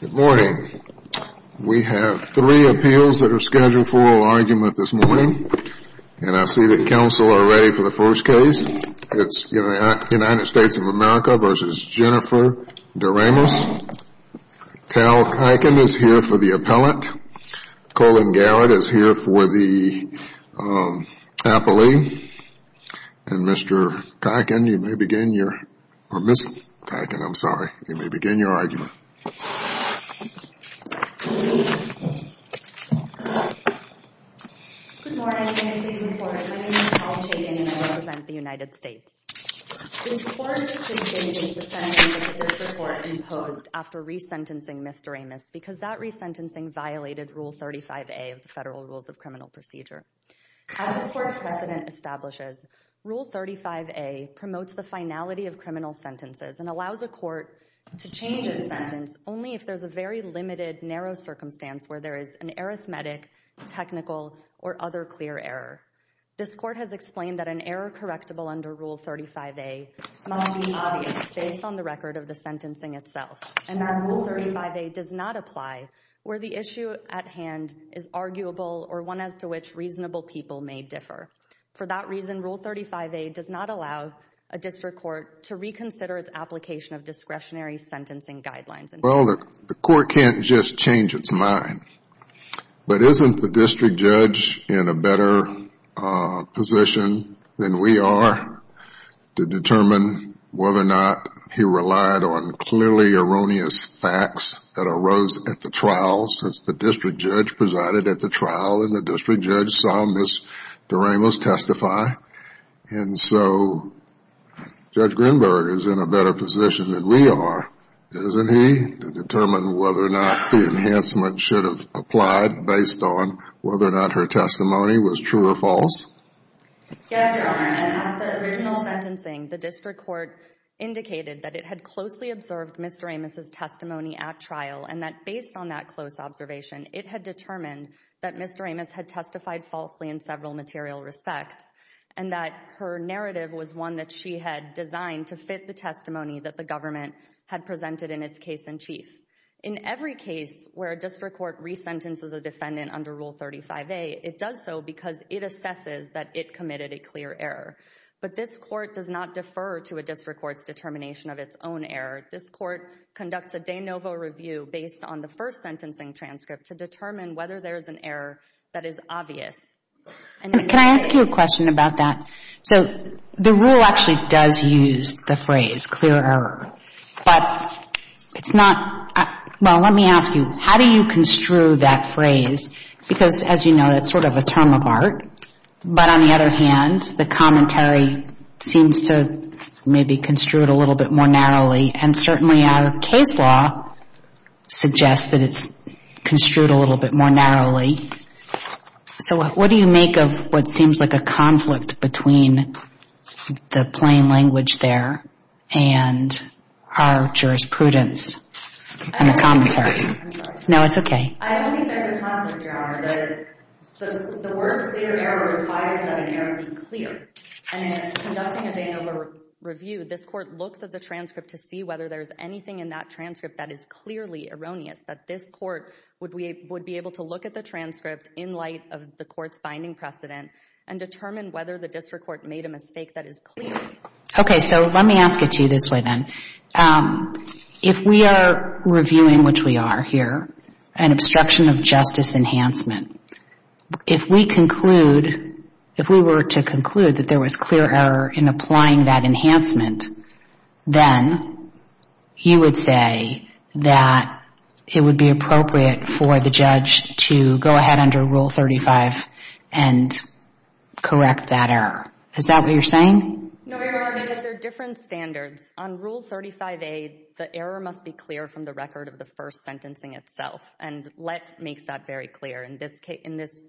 Good morning. We have three appeals that are scheduled for oral argument this morning and I see that counsel are ready for the first case. It's United States of America v. Jenifer Deramus. Tal Kiken is here for the Appellant. Colin Garrett is here for the Appellee. And Mr. Kiken, you may begin your, or Ms. Kiken, I'm sorry, you may begin your argument. Good morning. My name is Tal Kiken and I represent the United States. This Court is changing the sentence that this Court imposed after resentencing Mr. Amos because that resentencing violated Rule 35A of the Federal Rules of Criminal Procedure. As this Court's precedent establishes, Rule 35A promotes the finality of criminal sentences and allows a court to change its sentence only if there's a very limited, narrow circumstance where there is an arithmetic, technical, or other clear error. This Court has explained that an error correctable under Rule 35A must be obvious based on the record of the sentencing itself. And that Rule 35A does not apply where the issue at hand is arguable or one as to which reasonable people may differ. For that reason, Rule 35A does not allow a district court to reconsider its application of discretionary sentencing guidelines. Well, the Court can't just change its mind. But isn't the district judge in a better position than we are to determine whether or not he relied on clearly erroneous facts that arose at the trial since the district judge presided at the trial and the district judge saw Ms. Doremus testify? And so Judge Grinberg is in a better position than we are, isn't he, to determine whether or not the enhancement should have applied based on whether or not her testimony was true or false? Yes, Your Honor. And at the original sentencing, the district court indicated that it had closely observed Ms. Doremus' testimony at trial and that based on that close observation, it had determined that Ms. Doremus had testified falsely in several material respects and that her narrative was one that she had designed to fit the testimony that the government had presented in its case-in-chief. In every case where a district court resentences a defendant under Rule 35A, it does so because it assesses that it committed a clear error. But this court conducts a de novo review based on the first sentencing transcript to determine whether there's an error that is obvious. And can I ask you a question about that? So the rule actually does use the phrase clear error, but it's not, well, let me ask you, how do you construe that phrase? Because as you know, that's sort of a term of art, but on the other hand, the commentary seems to maybe construe it a little bit more narrowly, and certainly our case law suggests that it's construed a little bit more narrowly. So what do you make of what seems like a conflict between the plain language there and our jurisprudence in the commentary? I'm sorry. No, it's okay. I think there's a concept, Your Honor, that the word clear error requires that an error be clear. And in conducting a de novo review, this court looks at the transcript to see whether there's anything in that transcript that is clearly erroneous, that this court would be able to look at the transcript in light of the court's finding precedent and determine whether the district court made a mistake that is clear. Okay. So let me ask it to you this way, then. If we are reviewing, which we are here, an obstruction of justice enhancement, if we conclude, if we were to conclude that there was clear error in applying that enhancement, then you would say that it would be appropriate for the judge to go ahead under Rule 35 and correct that error. Is that what you're saying? No, Your Honor, because there are different standards. On Rule 35A, the error must be in itself. And let makes that very clear. In this case, in this,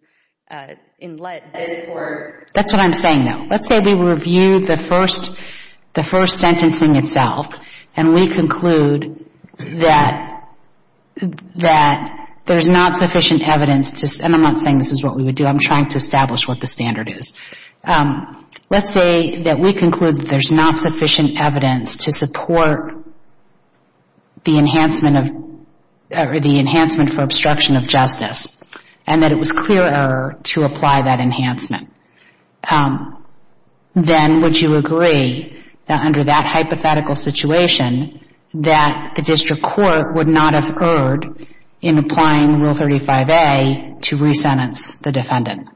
in let, this court That's what I'm saying, though. Let's say we reviewed the first, the first sentencing itself, and we conclude that, that there's not sufficient evidence to, and I'm not saying this is what we would do. I'm trying to establish what the standard is. Let's say that we conclude that there's not sufficient evidence to support the enhancement of, or the enhancement for obstruction of justice, and that it was clear error to apply that enhancement. Then would you agree that under that hypothetical situation that the district court would not have erred in applying Rule 35A to resentence the defendant?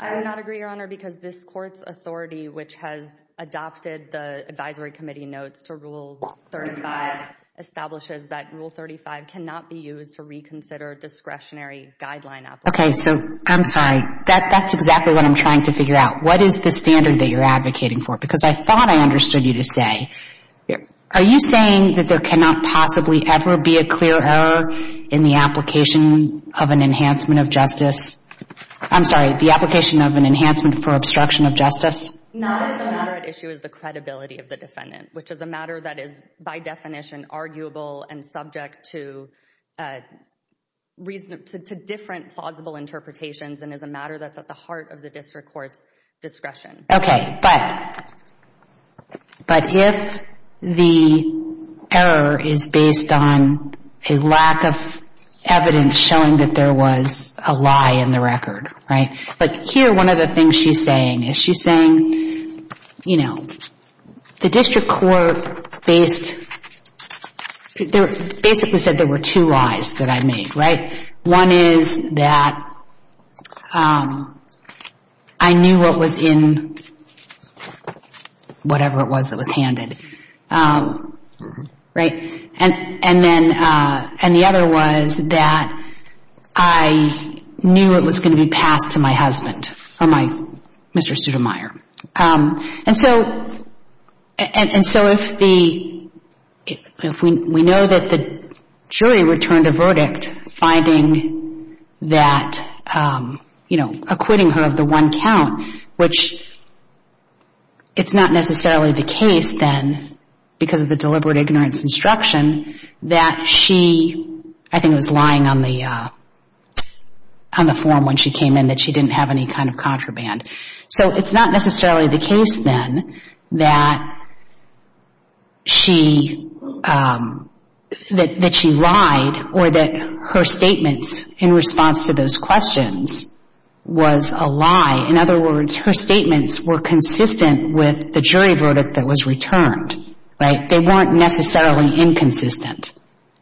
I would not agree, Your Honor, because this court's authority, which has adopted the advisory committee notes to Rule 35, establishes that Rule 35 cannot be used to reconsider discretionary guideline applications. Okay. So I'm sorry. That's exactly what I'm trying to figure out. What is the standard that you're advocating for? Because I thought I understood you to say. Are you saying that there cannot possibly ever be a clear error in the application of an enhancement of justice? I'm sorry, the application of an enhancement for obstruction of justice? Not if the matter at issue is the credibility of the defendant, which is a matter that is by definition arguable and subject to different plausible interpretations and is a matter that's at the heart of the district court's discretion. Okay. But if the error is based on a lack of evidence showing that there was a lie in the record, right? But here, one of the things she's saying is she's saying, you know, the district court based, basically said there were two lies that I made, right? One is that I knew what was in whatever it was that was handed, right? And then, and the other was that I knew it was going to be passed to my husband, or my Mr. Sudermeier. And so if the, if we know that the jury returned a verdict finding that, you know, acquitting her of the one count, which it's not necessarily the case then because of the deliberate ignorance instruction, that she, I think it was lying on the form when she came in, that she didn't have any kind of contraband. So it's not necessarily the case then that she lied or that her statements in response to those questions was a lie. In other words, her statements were consistent with the jury verdict that was returned, right? They weren't necessarily inconsistent,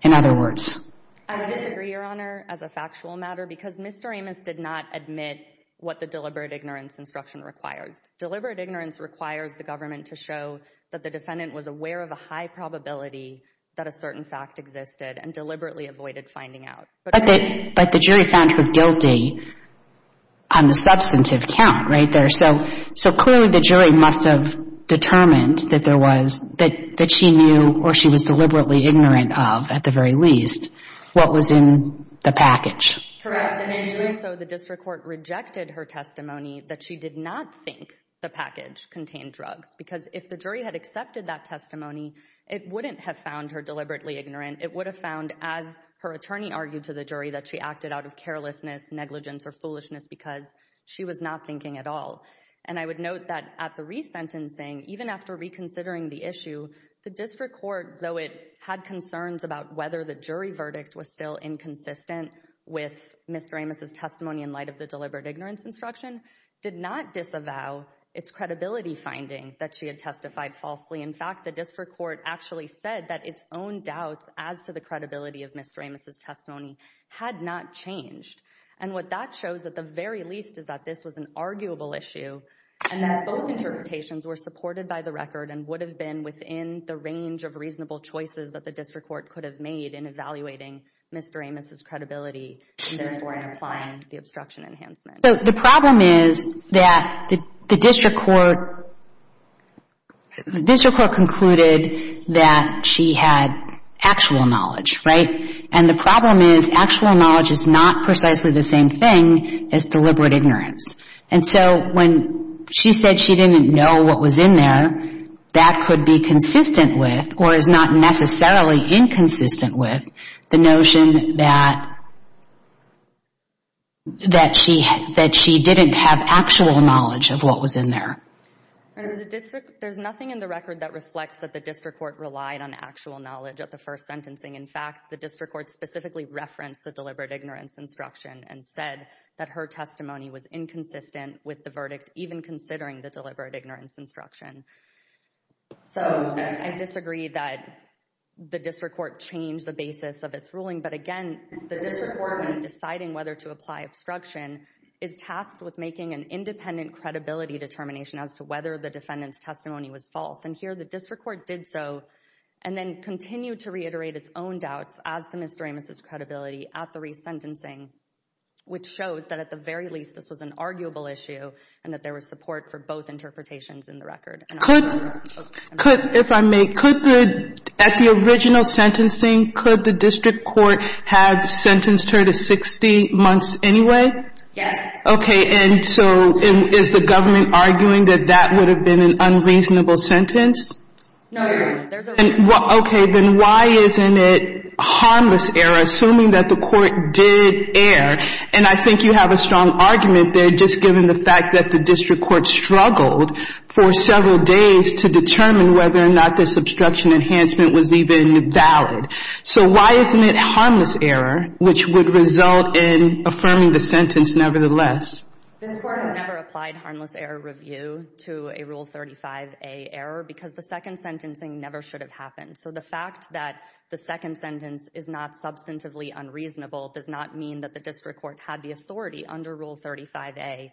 in other words. I disagree, Your Honor, as a factual matter, because Mr. Amos did not admit what the deliberate ignorance instruction requires. Deliberate ignorance requires the government to show that the defendant was aware of a high probability that a certain fact existed and deliberately avoided finding out. But the jury found her guilty on the substantive count, right? So clearly the jury must have determined that there was, that she knew or she was deliberately ignorant of, at the very least, what was in the package. Correct. And in doing so, the district court rejected her testimony that she did not think the package contained drugs. Because if the jury had accepted that testimony, it wouldn't have found her deliberately ignorant. It would have found, as her attorney argued to the jury, that she acted out of carelessness, negligence, or foolishness because she was not thinking at all. And I would note that at the resentencing, even after reconsidering the issue, the district court, though it had concerns about whether the jury verdict was still inconsistent with Mr. Amos' testimony in light of the deliberate ignorance instruction, did not disavow its credibility finding that she had testified falsely. In fact, the district court actually said that its own doubts as to the credibility of Mr. Amos' testimony had not changed. And what that shows, at the very least, is that this was an arguable issue and that both interpretations were supported by the record and would have been within the range of reasonable choices that the district court could have made in evaluating Mr. Amos' credibility and, therefore, in applying the obstruction enhancement. So the problem is that the district court concluded that she had actual knowledge, right? And the problem is actual knowledge is not precisely the same thing as deliberate ignorance. And so when she said she didn't know what was in there, that could be consistent with or is not necessarily inconsistent with the notion that she didn't have actual knowledge of what was in there. There's nothing in the record that reflects that the district court relied on actual knowledge of the first sentencing. In fact, the district court specifically referenced the deliberate ignorance instruction and said that her testimony was inconsistent with the verdict, even considering the deliberate ignorance instruction. So I disagree that the district court changed the basis of its ruling. But again, the district court, when deciding whether to apply obstruction, is tasked with making an independent credibility determination as to whether the defendant's testimony was false. And here the district court did so and then continued to reiterate its own doubts as to Mr. Amos' credibility at the resentencing, which shows that, at the very least, this was an arguable issue and that there was support for both interpretations in the record. Could, if I may, at the original sentencing, could the district court have sentenced her to 60 months anyway? Yes. Okay, and so is the government arguing that that would have been an unreasonable sentence? No. Okay, then why isn't it harmless error, assuming that the court did err? And I think you have a strong argument there, just given the fact that the district court struggled for several days to determine whether or not this obstruction enhancement was even valid. So why isn't it harmless error, which would result in affirming the sentence nevertheless? This Court has never applied harmless error review to a Rule 35a error, because the second sentencing never should have happened. So the fact that the second sentence is not substantively unreasonable does not mean that the district court had the authority under Rule 35a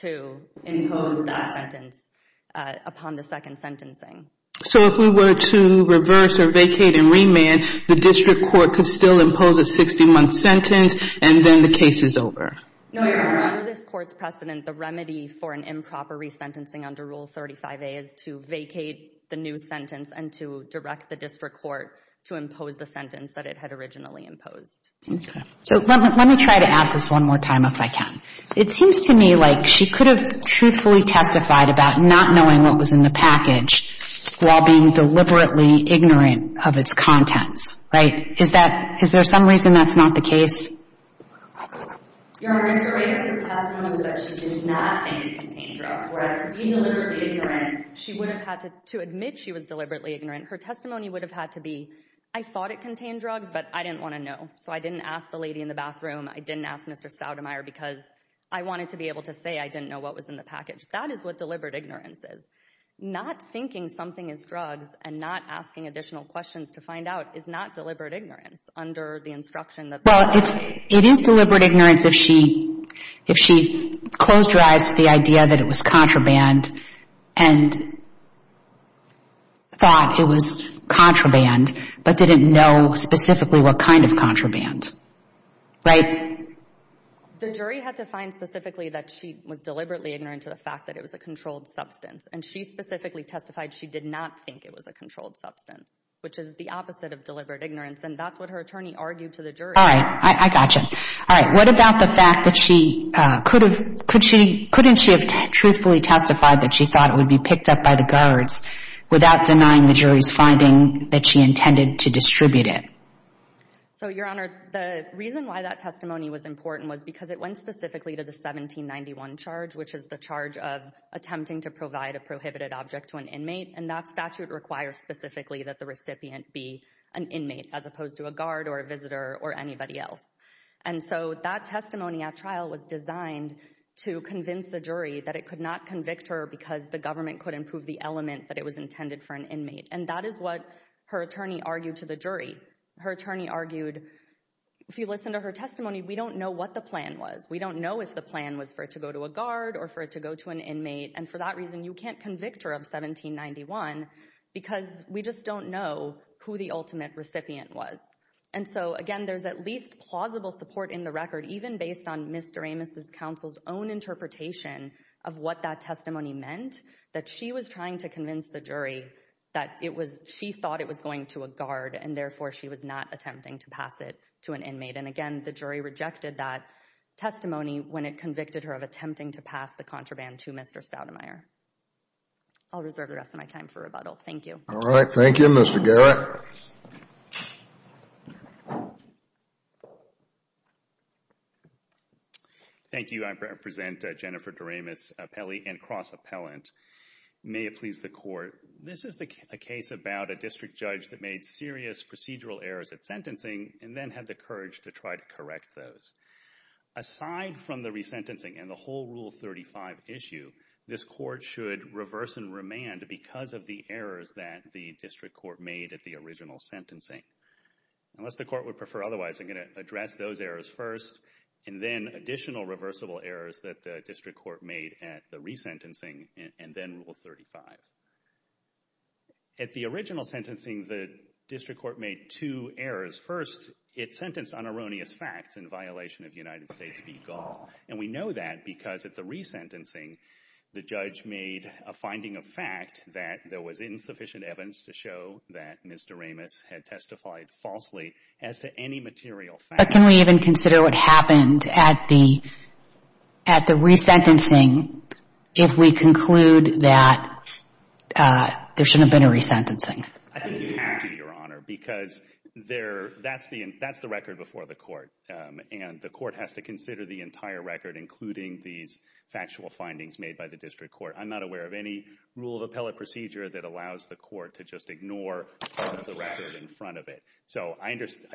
to impose that sentence upon the second sentencing. So if we were to reverse or vacate and remand, the district court could still impose a 60-month sentence and then the case is over? No, Your Honor. Under this Court's precedent, the remedy for an improper resentencing under Rule 35a is to vacate the new sentence and to direct the district court to impose the sentence that it had originally imposed. Okay. So let me try to ask this one more time, if I can. It seems to me like she could have truthfully testified about not knowing what was in the package while being deliberately ignorant of its contents, right? Is that — is there some reason that's not the case? Your Honor, Ms. Correia's testimony was that she did not think it contained drugs, whereas to be deliberately ignorant, she would have had to — to admit she was deliberately ignorant, her testimony would have had to be, I thought it contained drugs, but I didn't want to know, so I didn't ask the lady in the bathroom, I didn't ask Mr. Stoudemire because I wanted to be able to say I didn't know what was in the package. That is what deliberate ignorance is. Not thinking something is drugs and not asking additional questions to find out is not deliberate ignorance under the instruction that — Well, it is deliberate ignorance if she — if she closed her eyes to the idea that it was contraband and thought it was contraband but didn't know specifically what kind of contraband, right? The jury had to find specifically that she was deliberately ignorant to the fact that it was a controlled substance, and she specifically testified she did not think it was a controlled substance, which is the opposite of deliberate ignorance, and that's what her attorney argued to the jury. All right. I gotcha. All right. What about the fact that she could have — couldn't she have truthfully testified that she thought it would be picked up by the guards without denying the jury's finding that she intended to distribute it? So, Your Honor, the reason why that testimony was important was because it went specifically to the 1791 charge, which is the charge of attempting to provide a prohibited object to an inmate, and that statute requires specifically that the recipient be an inmate as opposed to a guard or a visitor or anybody else. And so that testimony at trial was designed to convince the jury that it could not convict her because the government couldn't prove the element that it was intended for an inmate, and that is what her attorney argued to the jury. Her attorney argued, if you listen to her testimony, we don't know what the plan was. We don't know if the plan was for it to go to a guard or for it to go to an inmate, and for that reason, you can't convict her of 1791 because we just don't know who the And so, again, there's at least plausible support in the record, even based on Mr. Amos' counsel's own interpretation of what that testimony meant, that she was trying to convince the jury that she thought it was going to a guard and therefore she was not attempting to pass it to an inmate. And again, the jury rejected that testimony when it convicted her of attempting to pass the contraband to Mr. Stoudemire. I'll reserve the rest of my time for rebuttal. Thank you. All right. Thank you, Mr. Garrett. Thank you. I represent Jennifer Doremus, appellee and cross-appellant. May it please the court, this is a case about a district judge that made serious procedural errors at sentencing and then had the courage to try to correct those. Aside from the resentencing and the court should reverse and remand because of the errors that the district court made at the original sentencing. Unless the court would prefer otherwise, I'm going to address those errors first and then additional reversible errors that the district court made at the resentencing and then Rule 35. At the original sentencing, the district court made two errors. First, it sentenced on erroneous facts in violation of United States v. Gall, and we know that because at the resentencing, the judge made a finding of fact that there was insufficient evidence to show that Ms. Doremus had testified falsely as to any material fact. But can we even consider what happened at the resentencing if we conclude that there shouldn't have been a resentencing? I think you have to, Your Honor, because that's the record before the court, and the factual findings made by the district court. I'm not aware of any rule of appellate procedure that allows the court to just ignore part of the record in front of it. So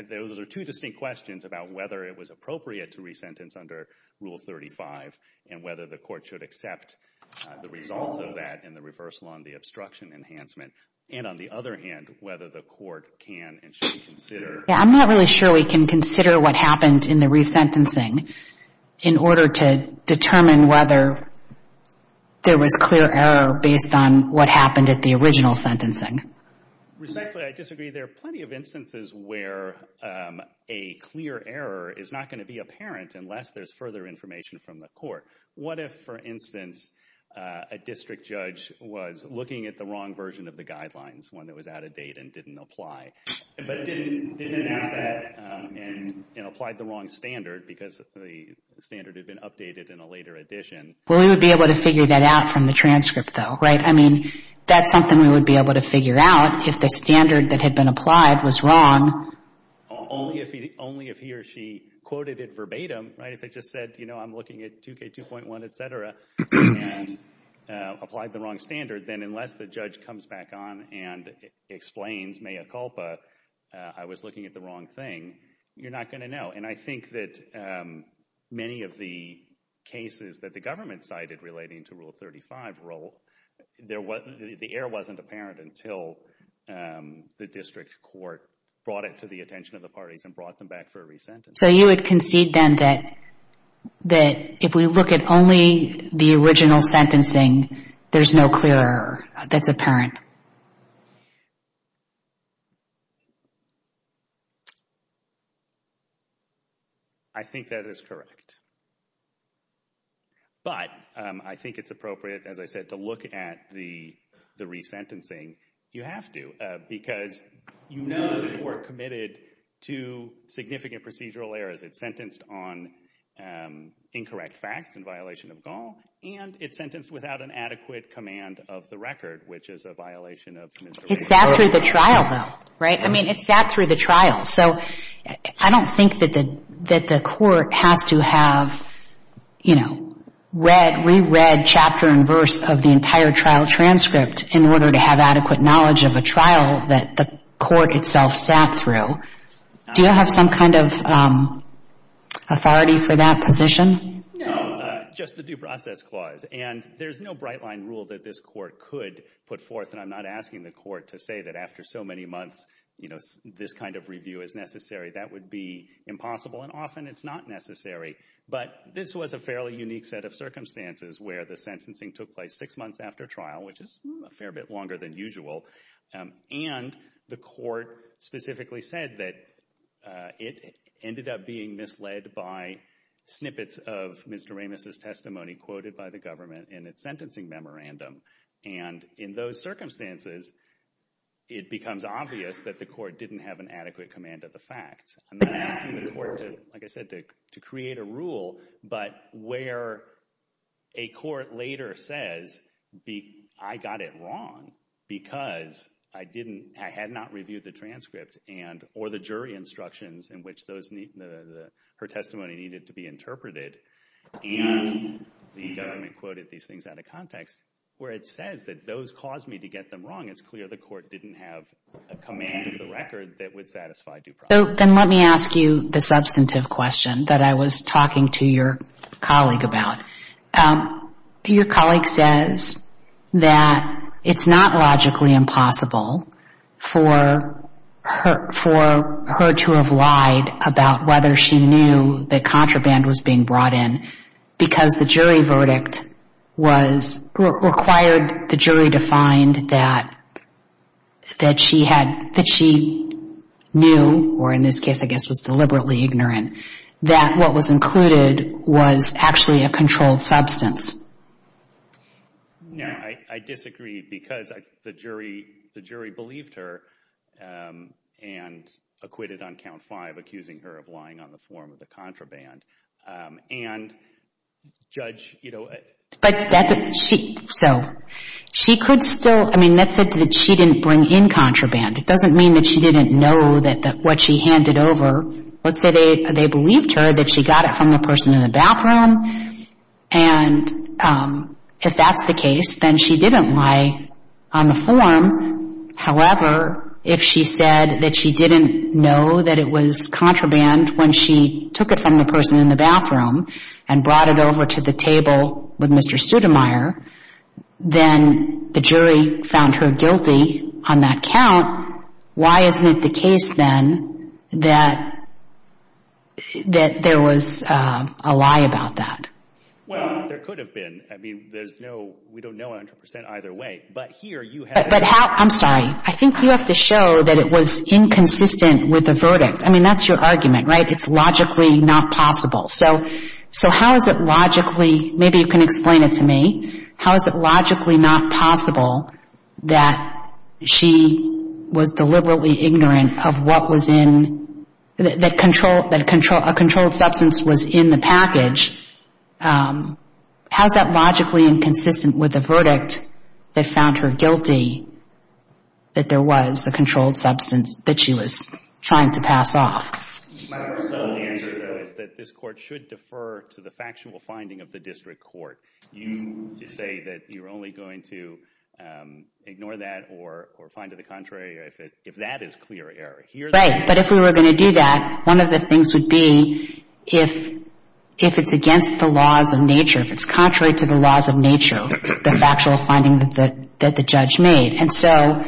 those are two distinct questions about whether it was appropriate to resentence under Rule 35 and whether the court should accept the results of that and the reversal on the obstruction enhancement. And on the other hand, whether the court can and should consider. I'm not really sure we can consider what happened in the resentencing in order to determine whether there was clear error based on what happened at the original sentencing. Respectfully, I disagree. There are plenty of instances where a clear error is not going to be apparent unless there's further information from the court. What if, for instance, a district judge was looking at the wrong version of the guidelines, one that was out of date and didn't apply, but didn't ask that and applied the wrong standard because the standard had been updated in a later edition? Well, we would be able to figure that out from the transcript, though, right? I mean, that's something we would be able to figure out if the standard that had been applied was wrong. Only if he or she quoted it verbatim, right? If it just said, you know, I'm looking at 2K2.1, et cetera, and applied the wrong standard, then unless the judge comes back on and explains mea culpa, I was looking at the wrong thing, you're not going to know. And I think that many of the cases that the government cited relating to Rule 35 rule, the error wasn't apparent until the district court brought it to the attention of the parties and brought them back for a resentencing. So you would concede then that if we look at only the original sentencing, there's no clear error that's apparent? I think that is correct. But I think it's appropriate, as I said, to look at the resentencing. You have to because you know that you are committed to significant procedural errors. It's sentenced on incorrect facts in violation of Gaul, and it's sentenced without an adequate command of the record, which is a violation of Mr. Rae's code. It's sat through the trial, though, right? I mean, it's sat through the trial. So I don't think that the court has to have, you know, read, reread chapter and verse of the entire trial transcript in order to have adequate knowledge of a trial that the court itself sat through. Do you have some kind of authority for that position? No, just the due process clause. And there's no bright line rule that this court could put forth. And I'm not asking the court to say that after so many months, you know, this kind of review is necessary. That would be impossible, and often it's not necessary. But this was a fairly unique set of circumstances where the sentencing took place six months after trial, which is a fair bit longer than usual. And the court specifically said that it ended up being misled by snippets of Mr. Ramis's testimony quoted by the government in its sentencing memorandum. And in those circumstances, it becomes obvious that the court didn't have an adequate command of the facts. I'm not asking the court to, like I said, to create a rule, but where a court later says, I got it wrong because I had not reviewed the transcript or the jury instructions in which her testimony needed to be interpreted, and the government quoted these things out of context, where it says that those caused me to get them wrong, it's clear the court didn't have a command of the record that would satisfy due process. Then let me ask you the substantive question that I was talking to your colleague about. Your colleague says that it's not logically impossible for her to have lied about whether she knew that contraband was being brought in, because the jury verdict required the jury to find that she knew, or in this case I guess was deliberately ignorant, that what she handed over was a chemical substance. No, I disagree, because the jury believed her and acquitted on count five, accusing her of lying on the form of the contraband. And Judge, you know... So, she could still, I mean, let's say that she didn't bring in contraband. It doesn't mean that she didn't know that what she handed over, let's say they believed her that she got it from the person in the bathroom, and if that's the case, then she didn't lie on the form. However, if she said that she didn't know that it was contraband when she took it from the person in the bathroom and brought it over to the table with Mr. Sudermeier, then the jury found her guilty on that count. Now, why isn't it the case, then, that there was a lie about that? Well, there could have been. I mean, there's no... We don't know 100% either way, but here you have... But how... I'm sorry. I think you have to show that it was inconsistent with the verdict. I mean, that's your argument, right? It's logically not possible. So, how is it logically... Maybe you can explain it to me. How is it logically not possible that she was deliberately ignorant of what was in... That a controlled substance was in the package. How is that logically inconsistent with the verdict that found her guilty that there was a controlled substance that she was trying to pass off? My personal answer, though, is that this Court should defer to the factual finding of the district court. You say that you're only going to ignore that or find to the contrary if that is clear error. Right. But if we were going to do that, one of the things would be if it's against the laws of nature, if it's contrary to the laws of nature, the factual finding that the judge made. And so,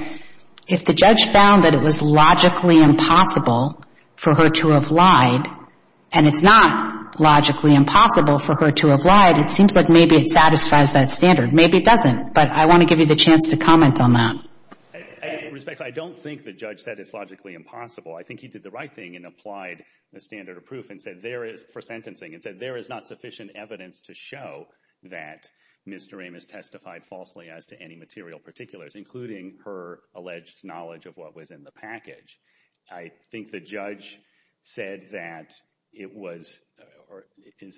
if the judge found that it was logically impossible for her to have lied, and it's not logically impossible for her to have lied, it seems like maybe it satisfies that standard. Maybe it doesn't. But I want to give you the chance to comment on that. In respect, I don't think the judge said it's logically impossible. I think he did the right thing and applied the standard of proof for sentencing and said there is not sufficient evidence to show that Ms. Doremus testified falsely as to any material particulars, including her alleged knowledge of what was in the package. I think the judge said that it was, or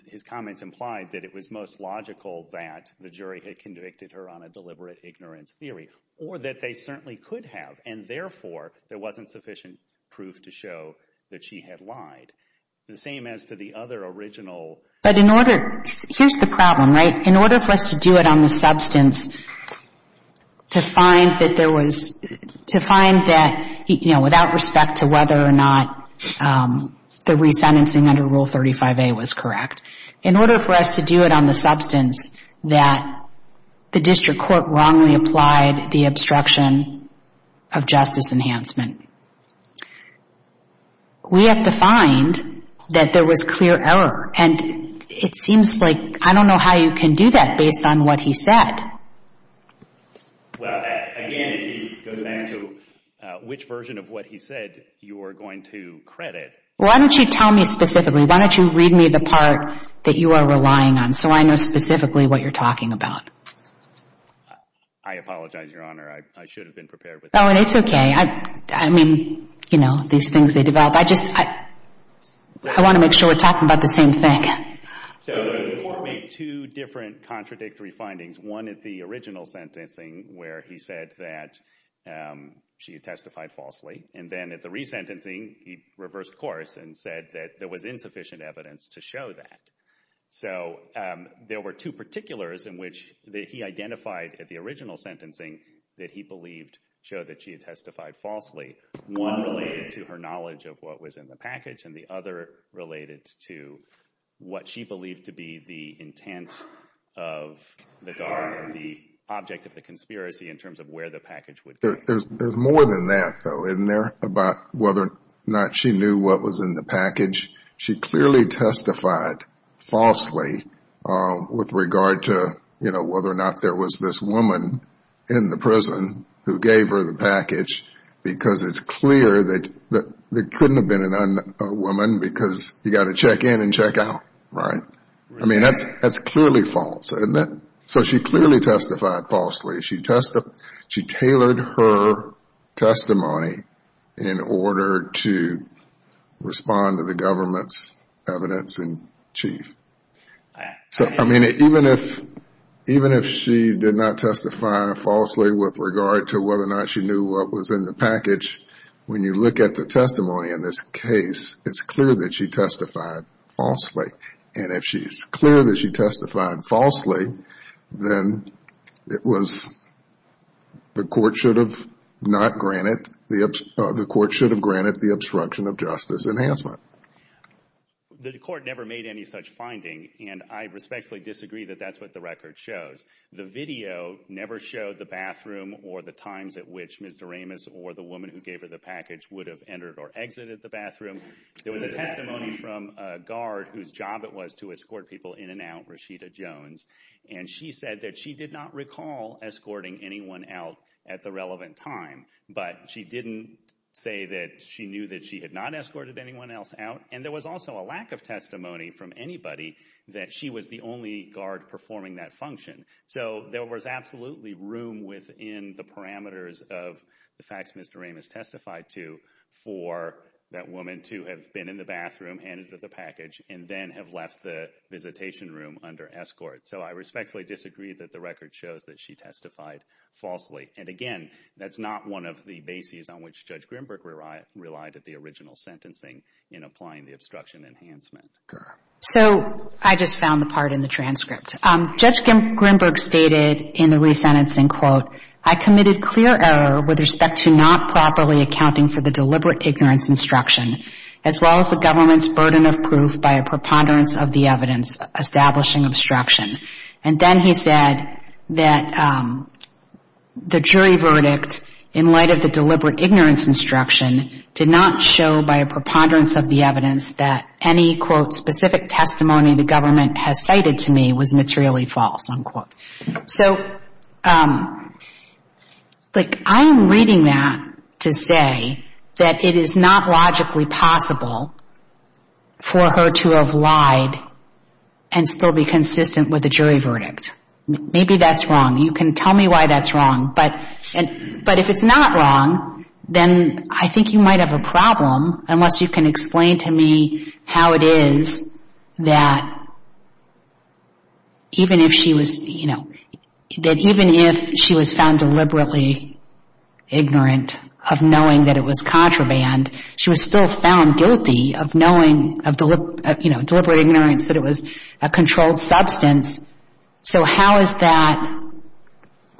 his comments implied, that it was most logical that the jury had convicted her on a deliberate ignorance theory or that they certainly could have. And therefore, there wasn't sufficient proof to show that she had lied. The same as to the other original. But in order, here's the problem, right? In order for us to do it on the substance, to find that there was, to find that without respect to whether or not the resentencing under Rule 35A was correct, in order for us to do it on the substance that the district court wrongly applied the obstruction of justice enhancement, we have to find that there was clear error. And it seems like I don't know how you can do that based on what he said. Well, again, it goes back to which version of what he said you are going to credit. Why don't you tell me specifically? Why don't you read me the part that you are relying on so I know specifically what you're talking about? I apologize, Your Honor. I should have been prepared with that. Oh, and it's okay. I mean, you know, these things, they develop. I want to make sure we're talking about the same thing. So the court made two different contradictory findings, one at the original sentencing where he said that she had testified falsely, and then at the resentencing he reversed course and said that there was insufficient evidence to show that. So there were two particulars in which he identified at the original sentencing that he believed showed that she had testified falsely. One related to her knowledge of what was in the package, and the other related to what she believed to be the intent of the guards and the object of the conspiracy in terms of where the package would go. There's more than that, though, isn't there, about whether or not she knew what was in the package? She clearly testified falsely with regard to, you know, whether or not there was this woman in the prison who gave her the package because it's clear that there couldn't have been a woman because you've got to check in and check out, right? I mean, that's clearly false, isn't it? So she clearly testified falsely. She tailored her testimony in order to respond to the government's evidence in chief. I mean, even if she did not testify falsely with regard to whether or not she knew what was in the package, when you look at the testimony in this case, it's clear that she testified falsely. And if she's clear that she testified falsely, then it was the court should have granted the obstruction of justice enhancement. The court never made any such finding, and I respectfully disagree that that's what the record shows. The video never showed the bathroom or the times at which Ms. Doremus or the woman who gave her the package would have entered or exited the bathroom. There was a testimony from a guard whose job it was to escort people in and out, Rashida Jones, and she said that she did not recall escorting anyone out at the relevant time, but she didn't say that she knew that she had not escorted anyone else out. And there was also a lack of testimony from anybody that she was the only guard performing that function. So there was absolutely room within the parameters of the facts Ms. Doremus testified to for that woman to have been in the bathroom and entered the package and then have left the visitation room under escort. So I respectfully disagree that the record shows that she testified falsely. And again, that's not one of the bases on which Judge Grimberg relied at the original sentencing in applying the obstruction enhancement. So I just found the part in the transcript. Judge Grimberg stated in the resentencing, quote, I committed clear error with respect to not properly accounting for the deliberate ignorance instruction as well as the government's burden of proof by a preponderance of the evidence establishing obstruction. And then he said that the jury verdict in light of the deliberate ignorance instruction did not show by a preponderance of the evidence that any, quote, specific testimony the government has cited to me was materially false, unquote. So, like, I am reading that to say that it is not logically possible for her to have lied and still be consistent with the jury verdict. Maybe that's wrong. You can tell me why that's wrong. But if it's not wrong, then I think you might have a problem unless you can explain to me how it is that even if she was, you know, that even if she was found deliberately ignorant of knowing that it was contraband, she was still found guilty of knowing, you know, deliberate ignorance that it was a controlled substance. So how is that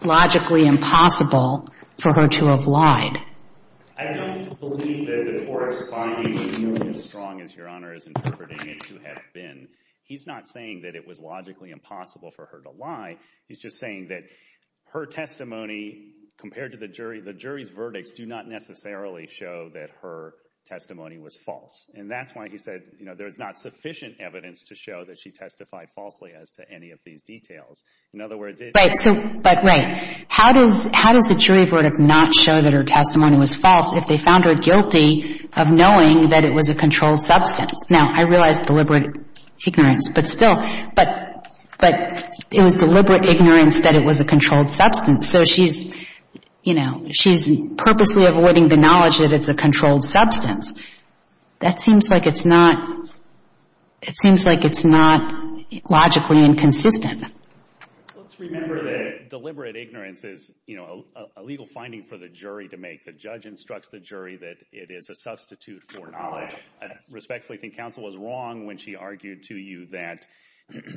logically impossible for her to have lied? I don't believe that the court's finding is nearly as strong as Your Honor is interpreting it to have been. He's not saying that it was logically impossible for her to lie. He's just saying that her testimony compared to the jury, the jury's verdicts do not necessarily show that her testimony was false. And that's why he said, you know, there's not sufficient evidence to show that she testified falsely as to any of these details. In other words, it's- Right. So, but right. How does the jury verdict not show that her testimony was false if they found her guilty of knowing that it was a controlled substance? Now, I realize deliberate ignorance, but still, but it was deliberate ignorance that it was a controlled substance. So she's, you know, she's purposely avoiding the knowledge that it's a controlled substance. That seems like it's not, it seems like it's not logically inconsistent. Let's remember that deliberate ignorance is, you know, a legal finding for the jury to make. The judge instructs the jury that it is a substitute for knowledge. I respectfully think counsel was wrong when she argued to you that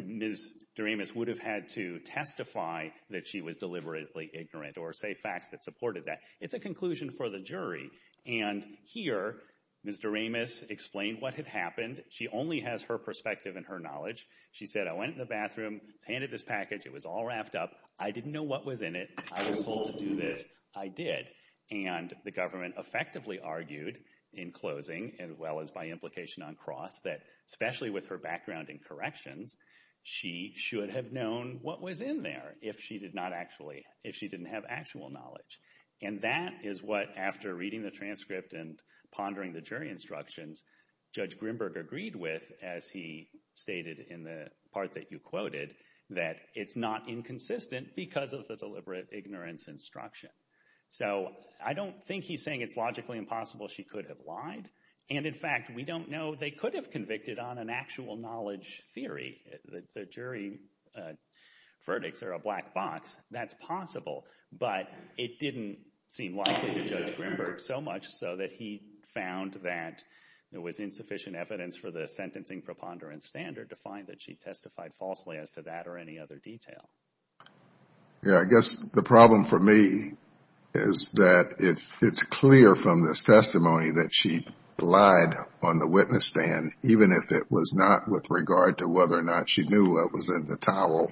Ms. Doremus would have had to testify that she was deliberately ignorant or say facts that supported that. It's a conclusion for the jury. And here, Ms. Doremus explained what had happened. She only has her perspective and her knowledge. She said, I went in the bathroom, handed this package. It was all wrapped up. I didn't know what was in it. I was told to do this. I did. And the government effectively argued in closing as well as by implication on cross that especially with her background in corrections, she should have known what was in there if she did not actually, if she didn't have actual knowledge. And that is what, after reading the transcript and pondering the jury instructions, Judge Grimberg agreed with, as he stated in the part that you quoted, that it's not inconsistent because of the deliberate ignorance instruction. So I don't think he's saying it's logically impossible she could have lied. And in fact, we don't know. They could have convicted on an actual knowledge theory. The jury verdicts are a black box. That's possible. But it didn't seem likely to Judge Grimberg so much so that he found that there was insufficient evidence for the sentencing preponderance standard to find that she testified falsely as to that or any other detail. Yeah, I guess the problem for me is that it's clear from this testimony that she lied on the witness stand, even if it was not with regard to whether or not she knew what was in the towel,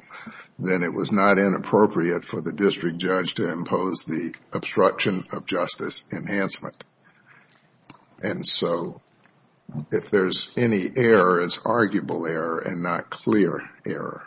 then it was not inappropriate for the district judge to impose the obstruction of justice enhancement. And so if there's any error, it's arguable error and not clear error.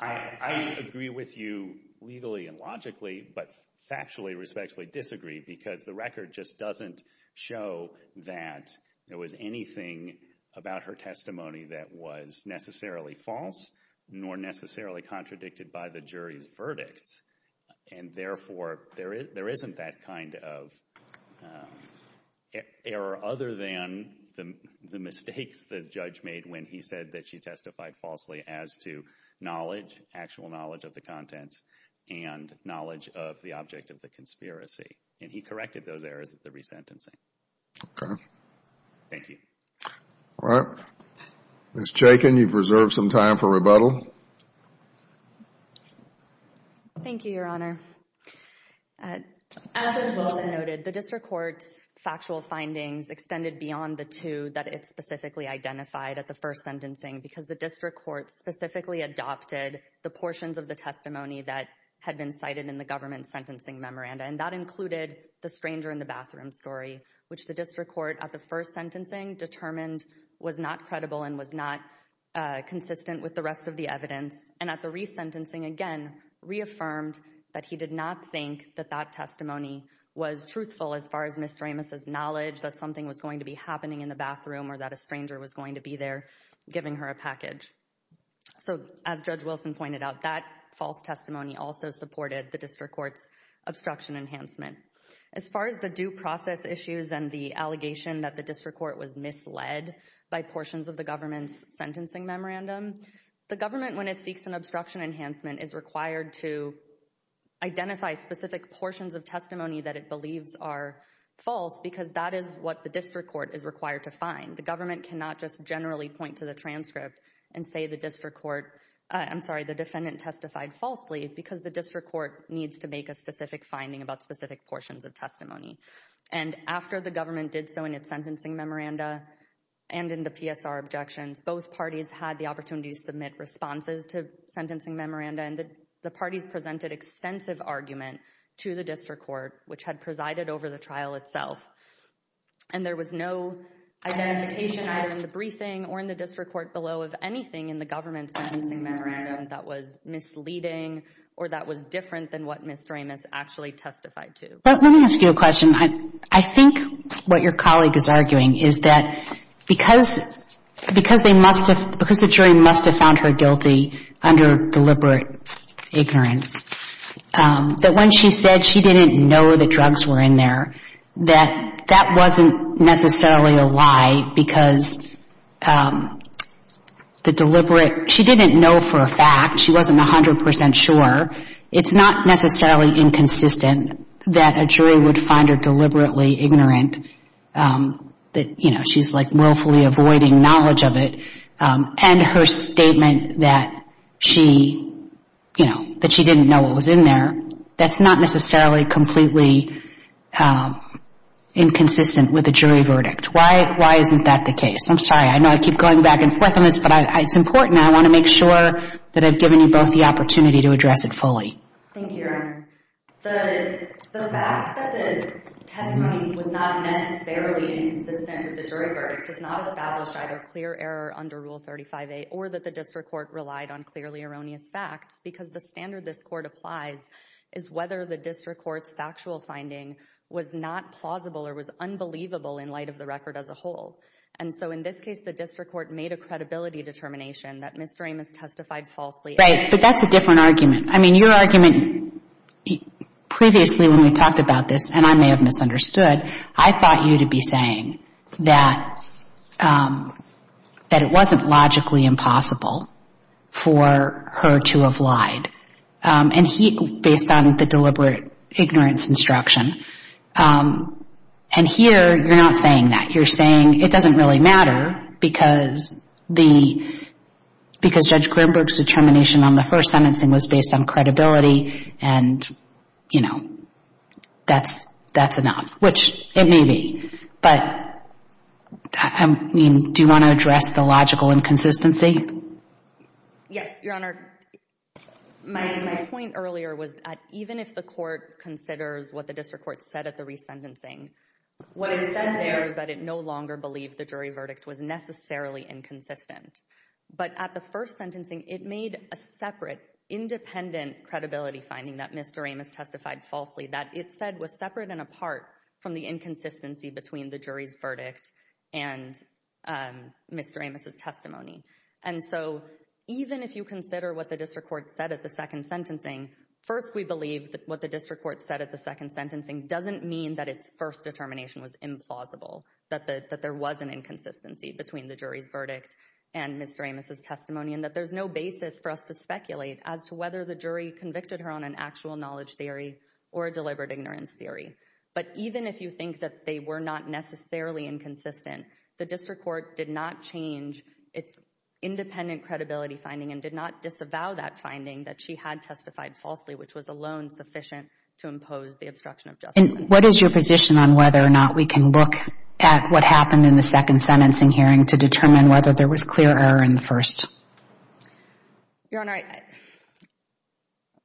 I agree with you legally and logically, but factually, respectfully disagree, because the record just doesn't show that there was anything about her testimony that was necessarily false nor necessarily contradicted by the jury's verdicts. And therefore, there isn't that kind of error other than the mistakes the judge made when he said that she testified falsely as to knowledge, actual knowledge of the contents and knowledge of the object of the conspiracy. And he corrected those errors at the resentencing. Okay. Thank you. All right. Ms. Chaykin, you've reserved some time for rebuttal. Thank you, Your Honor. As was noted, the district court's factual findings extended beyond the two that it specifically identified at the first sentencing, because the district court specifically adopted the portions of the testimony that had been cited in the government sentencing memoranda, and that included the stranger in the bathroom story, which the district court at the first sentencing determined was not credible and was not consistent with the rest of the evidence, and at the resentencing, again, reaffirmed that he did not think that that testimony was truthful as far as Ms. Ramos' knowledge that something was going to be happening in the bathroom or that a stranger was going to be there giving her a package. So as Judge Wilson pointed out, that false testimony also supported the district court's obstruction enhancement. As far as the due process issues and the allegation that the district court was misled by portions of the government's sentencing memorandum, the government, when it seeks an obstruction enhancement, is required to identify specific portions of testimony that it believes are false because that is what the district court is required to find. The government cannot just generally point to the transcript and say the district court— I'm sorry, the defendant testified falsely because the district court needs to make a specific finding about specific portions of testimony. And after the government did so in its sentencing memoranda and in the PSR objections, both parties had the opportunity to submit responses to sentencing memoranda and the parties presented extensive argument to the district court, which had presided over the trial itself. And there was no identification either in the briefing or in the district court below of anything in the government's sentencing memorandum that was misleading or that was different than what Ms. Ramos actually testified to. Let me ask you a question. I think what your colleague is arguing is that because they must have— because the jury must have found her guilty under deliberate ignorance, that when she said she didn't know the drugs were in there, that that wasn't necessarily a lie because the deliberate— she didn't know for a fact. She wasn't 100 percent sure. It's not necessarily inconsistent that a jury would find her deliberately ignorant, that she's willfully avoiding knowledge of it, and her statement that she didn't know what was in there, that's not necessarily completely inconsistent with a jury verdict. Why isn't that the case? I'm sorry. I know I keep going back and forth on this, but it's important. I want to make sure that I've given you both the opportunity to address it fully. Thank you, Your Honor. The fact that the testimony was not necessarily inconsistent with the jury verdict does not establish either clear error under Rule 35a or that the district court relied on clearly erroneous facts because the standard this court applies is whether the district court's factual finding was not plausible or was unbelievable in light of the record as a whole. And so in this case, the district court made a credibility determination that Ms. Doremus testified falsely. Right. But that's a different argument. I mean, your argument previously when we talked about this, and I may have misunderstood, I thought you to be saying that it wasn't logically impossible for her to have lied, based on the deliberate ignorance instruction. And here, you're not saying that. You're saying it doesn't really matter because the — because Judge Grimberg's determination on the first sentencing was based on credibility and, you know, that's enough, which it may be. But, I mean, do you want to address the logical inconsistency? Yes, Your Honor. My point earlier was that even if the court considers what the district court said at the resentencing, what it said there is that it no longer believed the jury verdict was necessarily inconsistent. But at the first sentencing, it made a separate, independent credibility finding that Ms. Doremus testified falsely, that it said was separate and apart from the inconsistency between the jury's verdict and Ms. Doremus's testimony. And so even if you consider what the district court said at the second sentencing, first, we believe that what the district court said at the second sentencing doesn't mean that its first determination was implausible, that there was an inconsistency between the jury's verdict and Ms. Doremus's testimony and that there's no basis for us to speculate as to whether the jury convicted her on an actual knowledge theory or a deliberate ignorance theory. But even if you think that they were not necessarily inconsistent, the district court did not change its independent credibility finding and did not disavow that finding that she had testified falsely, which was alone sufficient to impose the obstruction of justice. And what is your position on whether or not we can look at what happened in the second sentencing hearing to determine whether there was clear error in the first? Your Honor,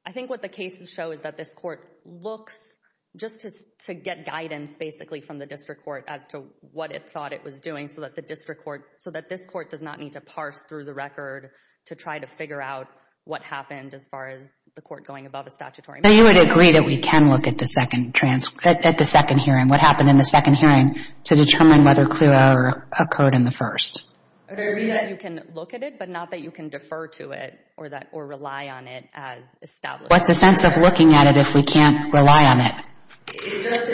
I think what the cases show is that this court looks just to get guidance, basically, from the district court as to what it thought it was doing so that this court does not need to parse through the record to try to figure out what happened as far as the court going above a statutory measure. So you would agree that we can look at the second hearing, what happened in the second hearing, to determine whether clear error occurred in the first? I would agree that you can look at it, but not that you can defer to it or rely on it as established. What's the sense of looking at it if we can't rely on it? It's just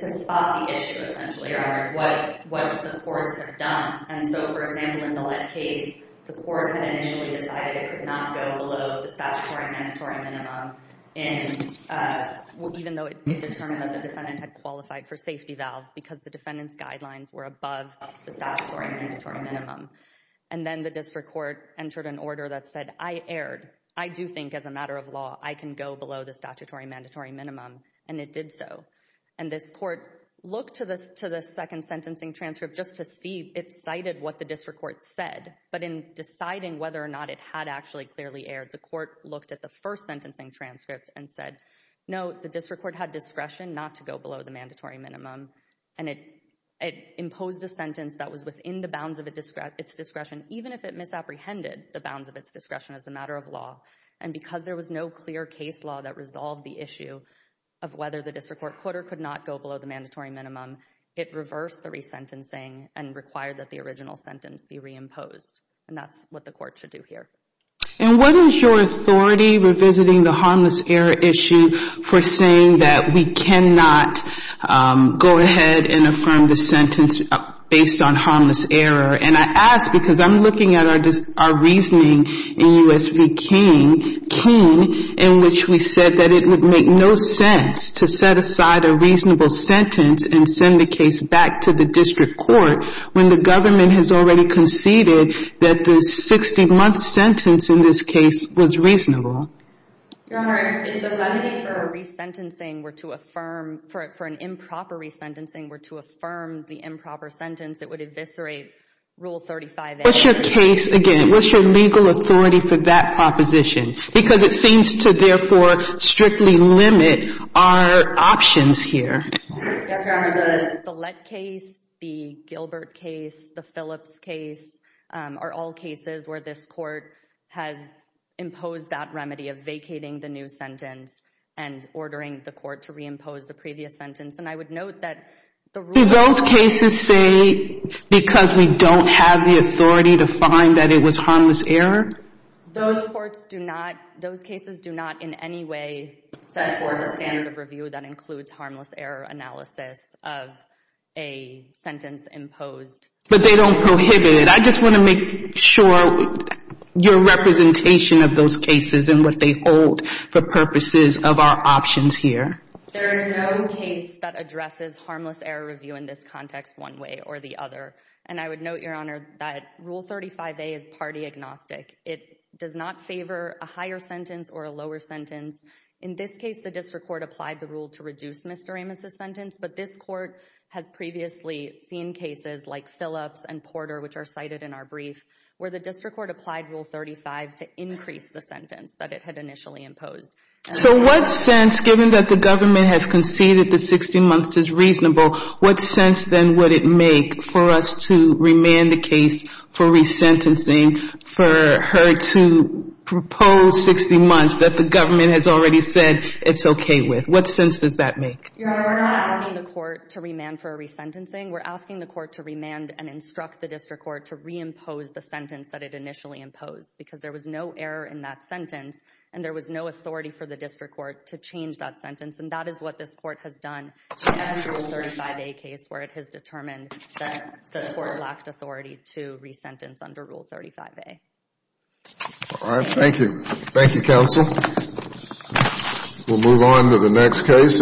to spot the issue, essentially, Your Honor, of what the courts have done. And so, for example, in the Lett case, the court had initially decided it could not go below the statutory mandatory minimum, even though it determined that the defendant had qualified for safety valve because the defendant's guidelines were above the statutory mandatory minimum. And then the district court entered an order that said, I erred. I do think as a matter of law I can go below the statutory mandatory minimum, and it did so. And this court looked to the second sentencing transcript just to see. It cited what the district court said, but in deciding whether or not it had actually clearly erred, the court looked at the first sentencing transcript and said, no, the district court had discretion not to go below the mandatory minimum. And it imposed a sentence that was within the bounds of its discretion, even if it misapprehended the bounds of its discretion as a matter of law. And because there was no clear case law that resolved the issue of whether the district court could or could not go below the mandatory minimum, it reversed the resentencing and required that the original sentence be reimposed. And that's what the court should do here. And wasn't your authority, revisiting the harmless error issue, for saying that we cannot go ahead and affirm the sentence based on harmless error? And I ask because I'm looking at our reasoning in U.S. v. King, in which we said that it would make no sense to set aside a reasonable sentence and send the case back to the district court when the government has already conceded that the 60-month sentence in this case was reasonable. Your Honor, if the remedy for a resentencing were to affirm, for an improper resentencing were to affirm the improper sentence, it would eviscerate Rule 35A. What's your case again? What's your legal authority for that proposition? Because it seems to, therefore, strictly limit our options here. Yes, Your Honor, the Lett case, the Gilbert case, the Phillips case, are all cases where this court has imposed that remedy of vacating the new sentence and ordering the court to reimpose the previous sentence. And I would note that the Rule 35A- Do those cases say because we don't have the authority to find that it was harmless error? Those courts do not, those cases do not in any way set forth a standard of review that includes harmless error analysis of a sentence imposed. But they don't prohibit it. I just want to make sure your representation of those cases and what they hold for purposes of our options here. There is no case that addresses harmless error review in this context one way or the other. And I would note, Your Honor, that Rule 35A is party agnostic. It does not favor a higher sentence or a lower sentence. In this case, the district court applied the rule to reduce Mr. Ramis' sentence, but this court has previously seen cases like Phillips and Porter, which are cited in our brief, where the district court applied Rule 35 to increase the sentence that it had initially imposed. So what sense, given that the government has conceded that 60 months is reasonable, what sense then would it make for us to remand the case for resentencing, for her to propose 60 months that the government has already said it's okay with? What sense does that make? Your Honor, we're not asking the court to remand for a resentencing. We're asking the court to remand and instruct the district court to reimpose the sentence that it initially imposed, because there was no error in that sentence, and there was no authority for the district court to change that sentence. And that is what this court has done in that Rule 35A case, where it has determined that the court lacked authority to resentence under Rule 35A. All right. Thank you. Thank you, Counsel. We'll move on to the next case.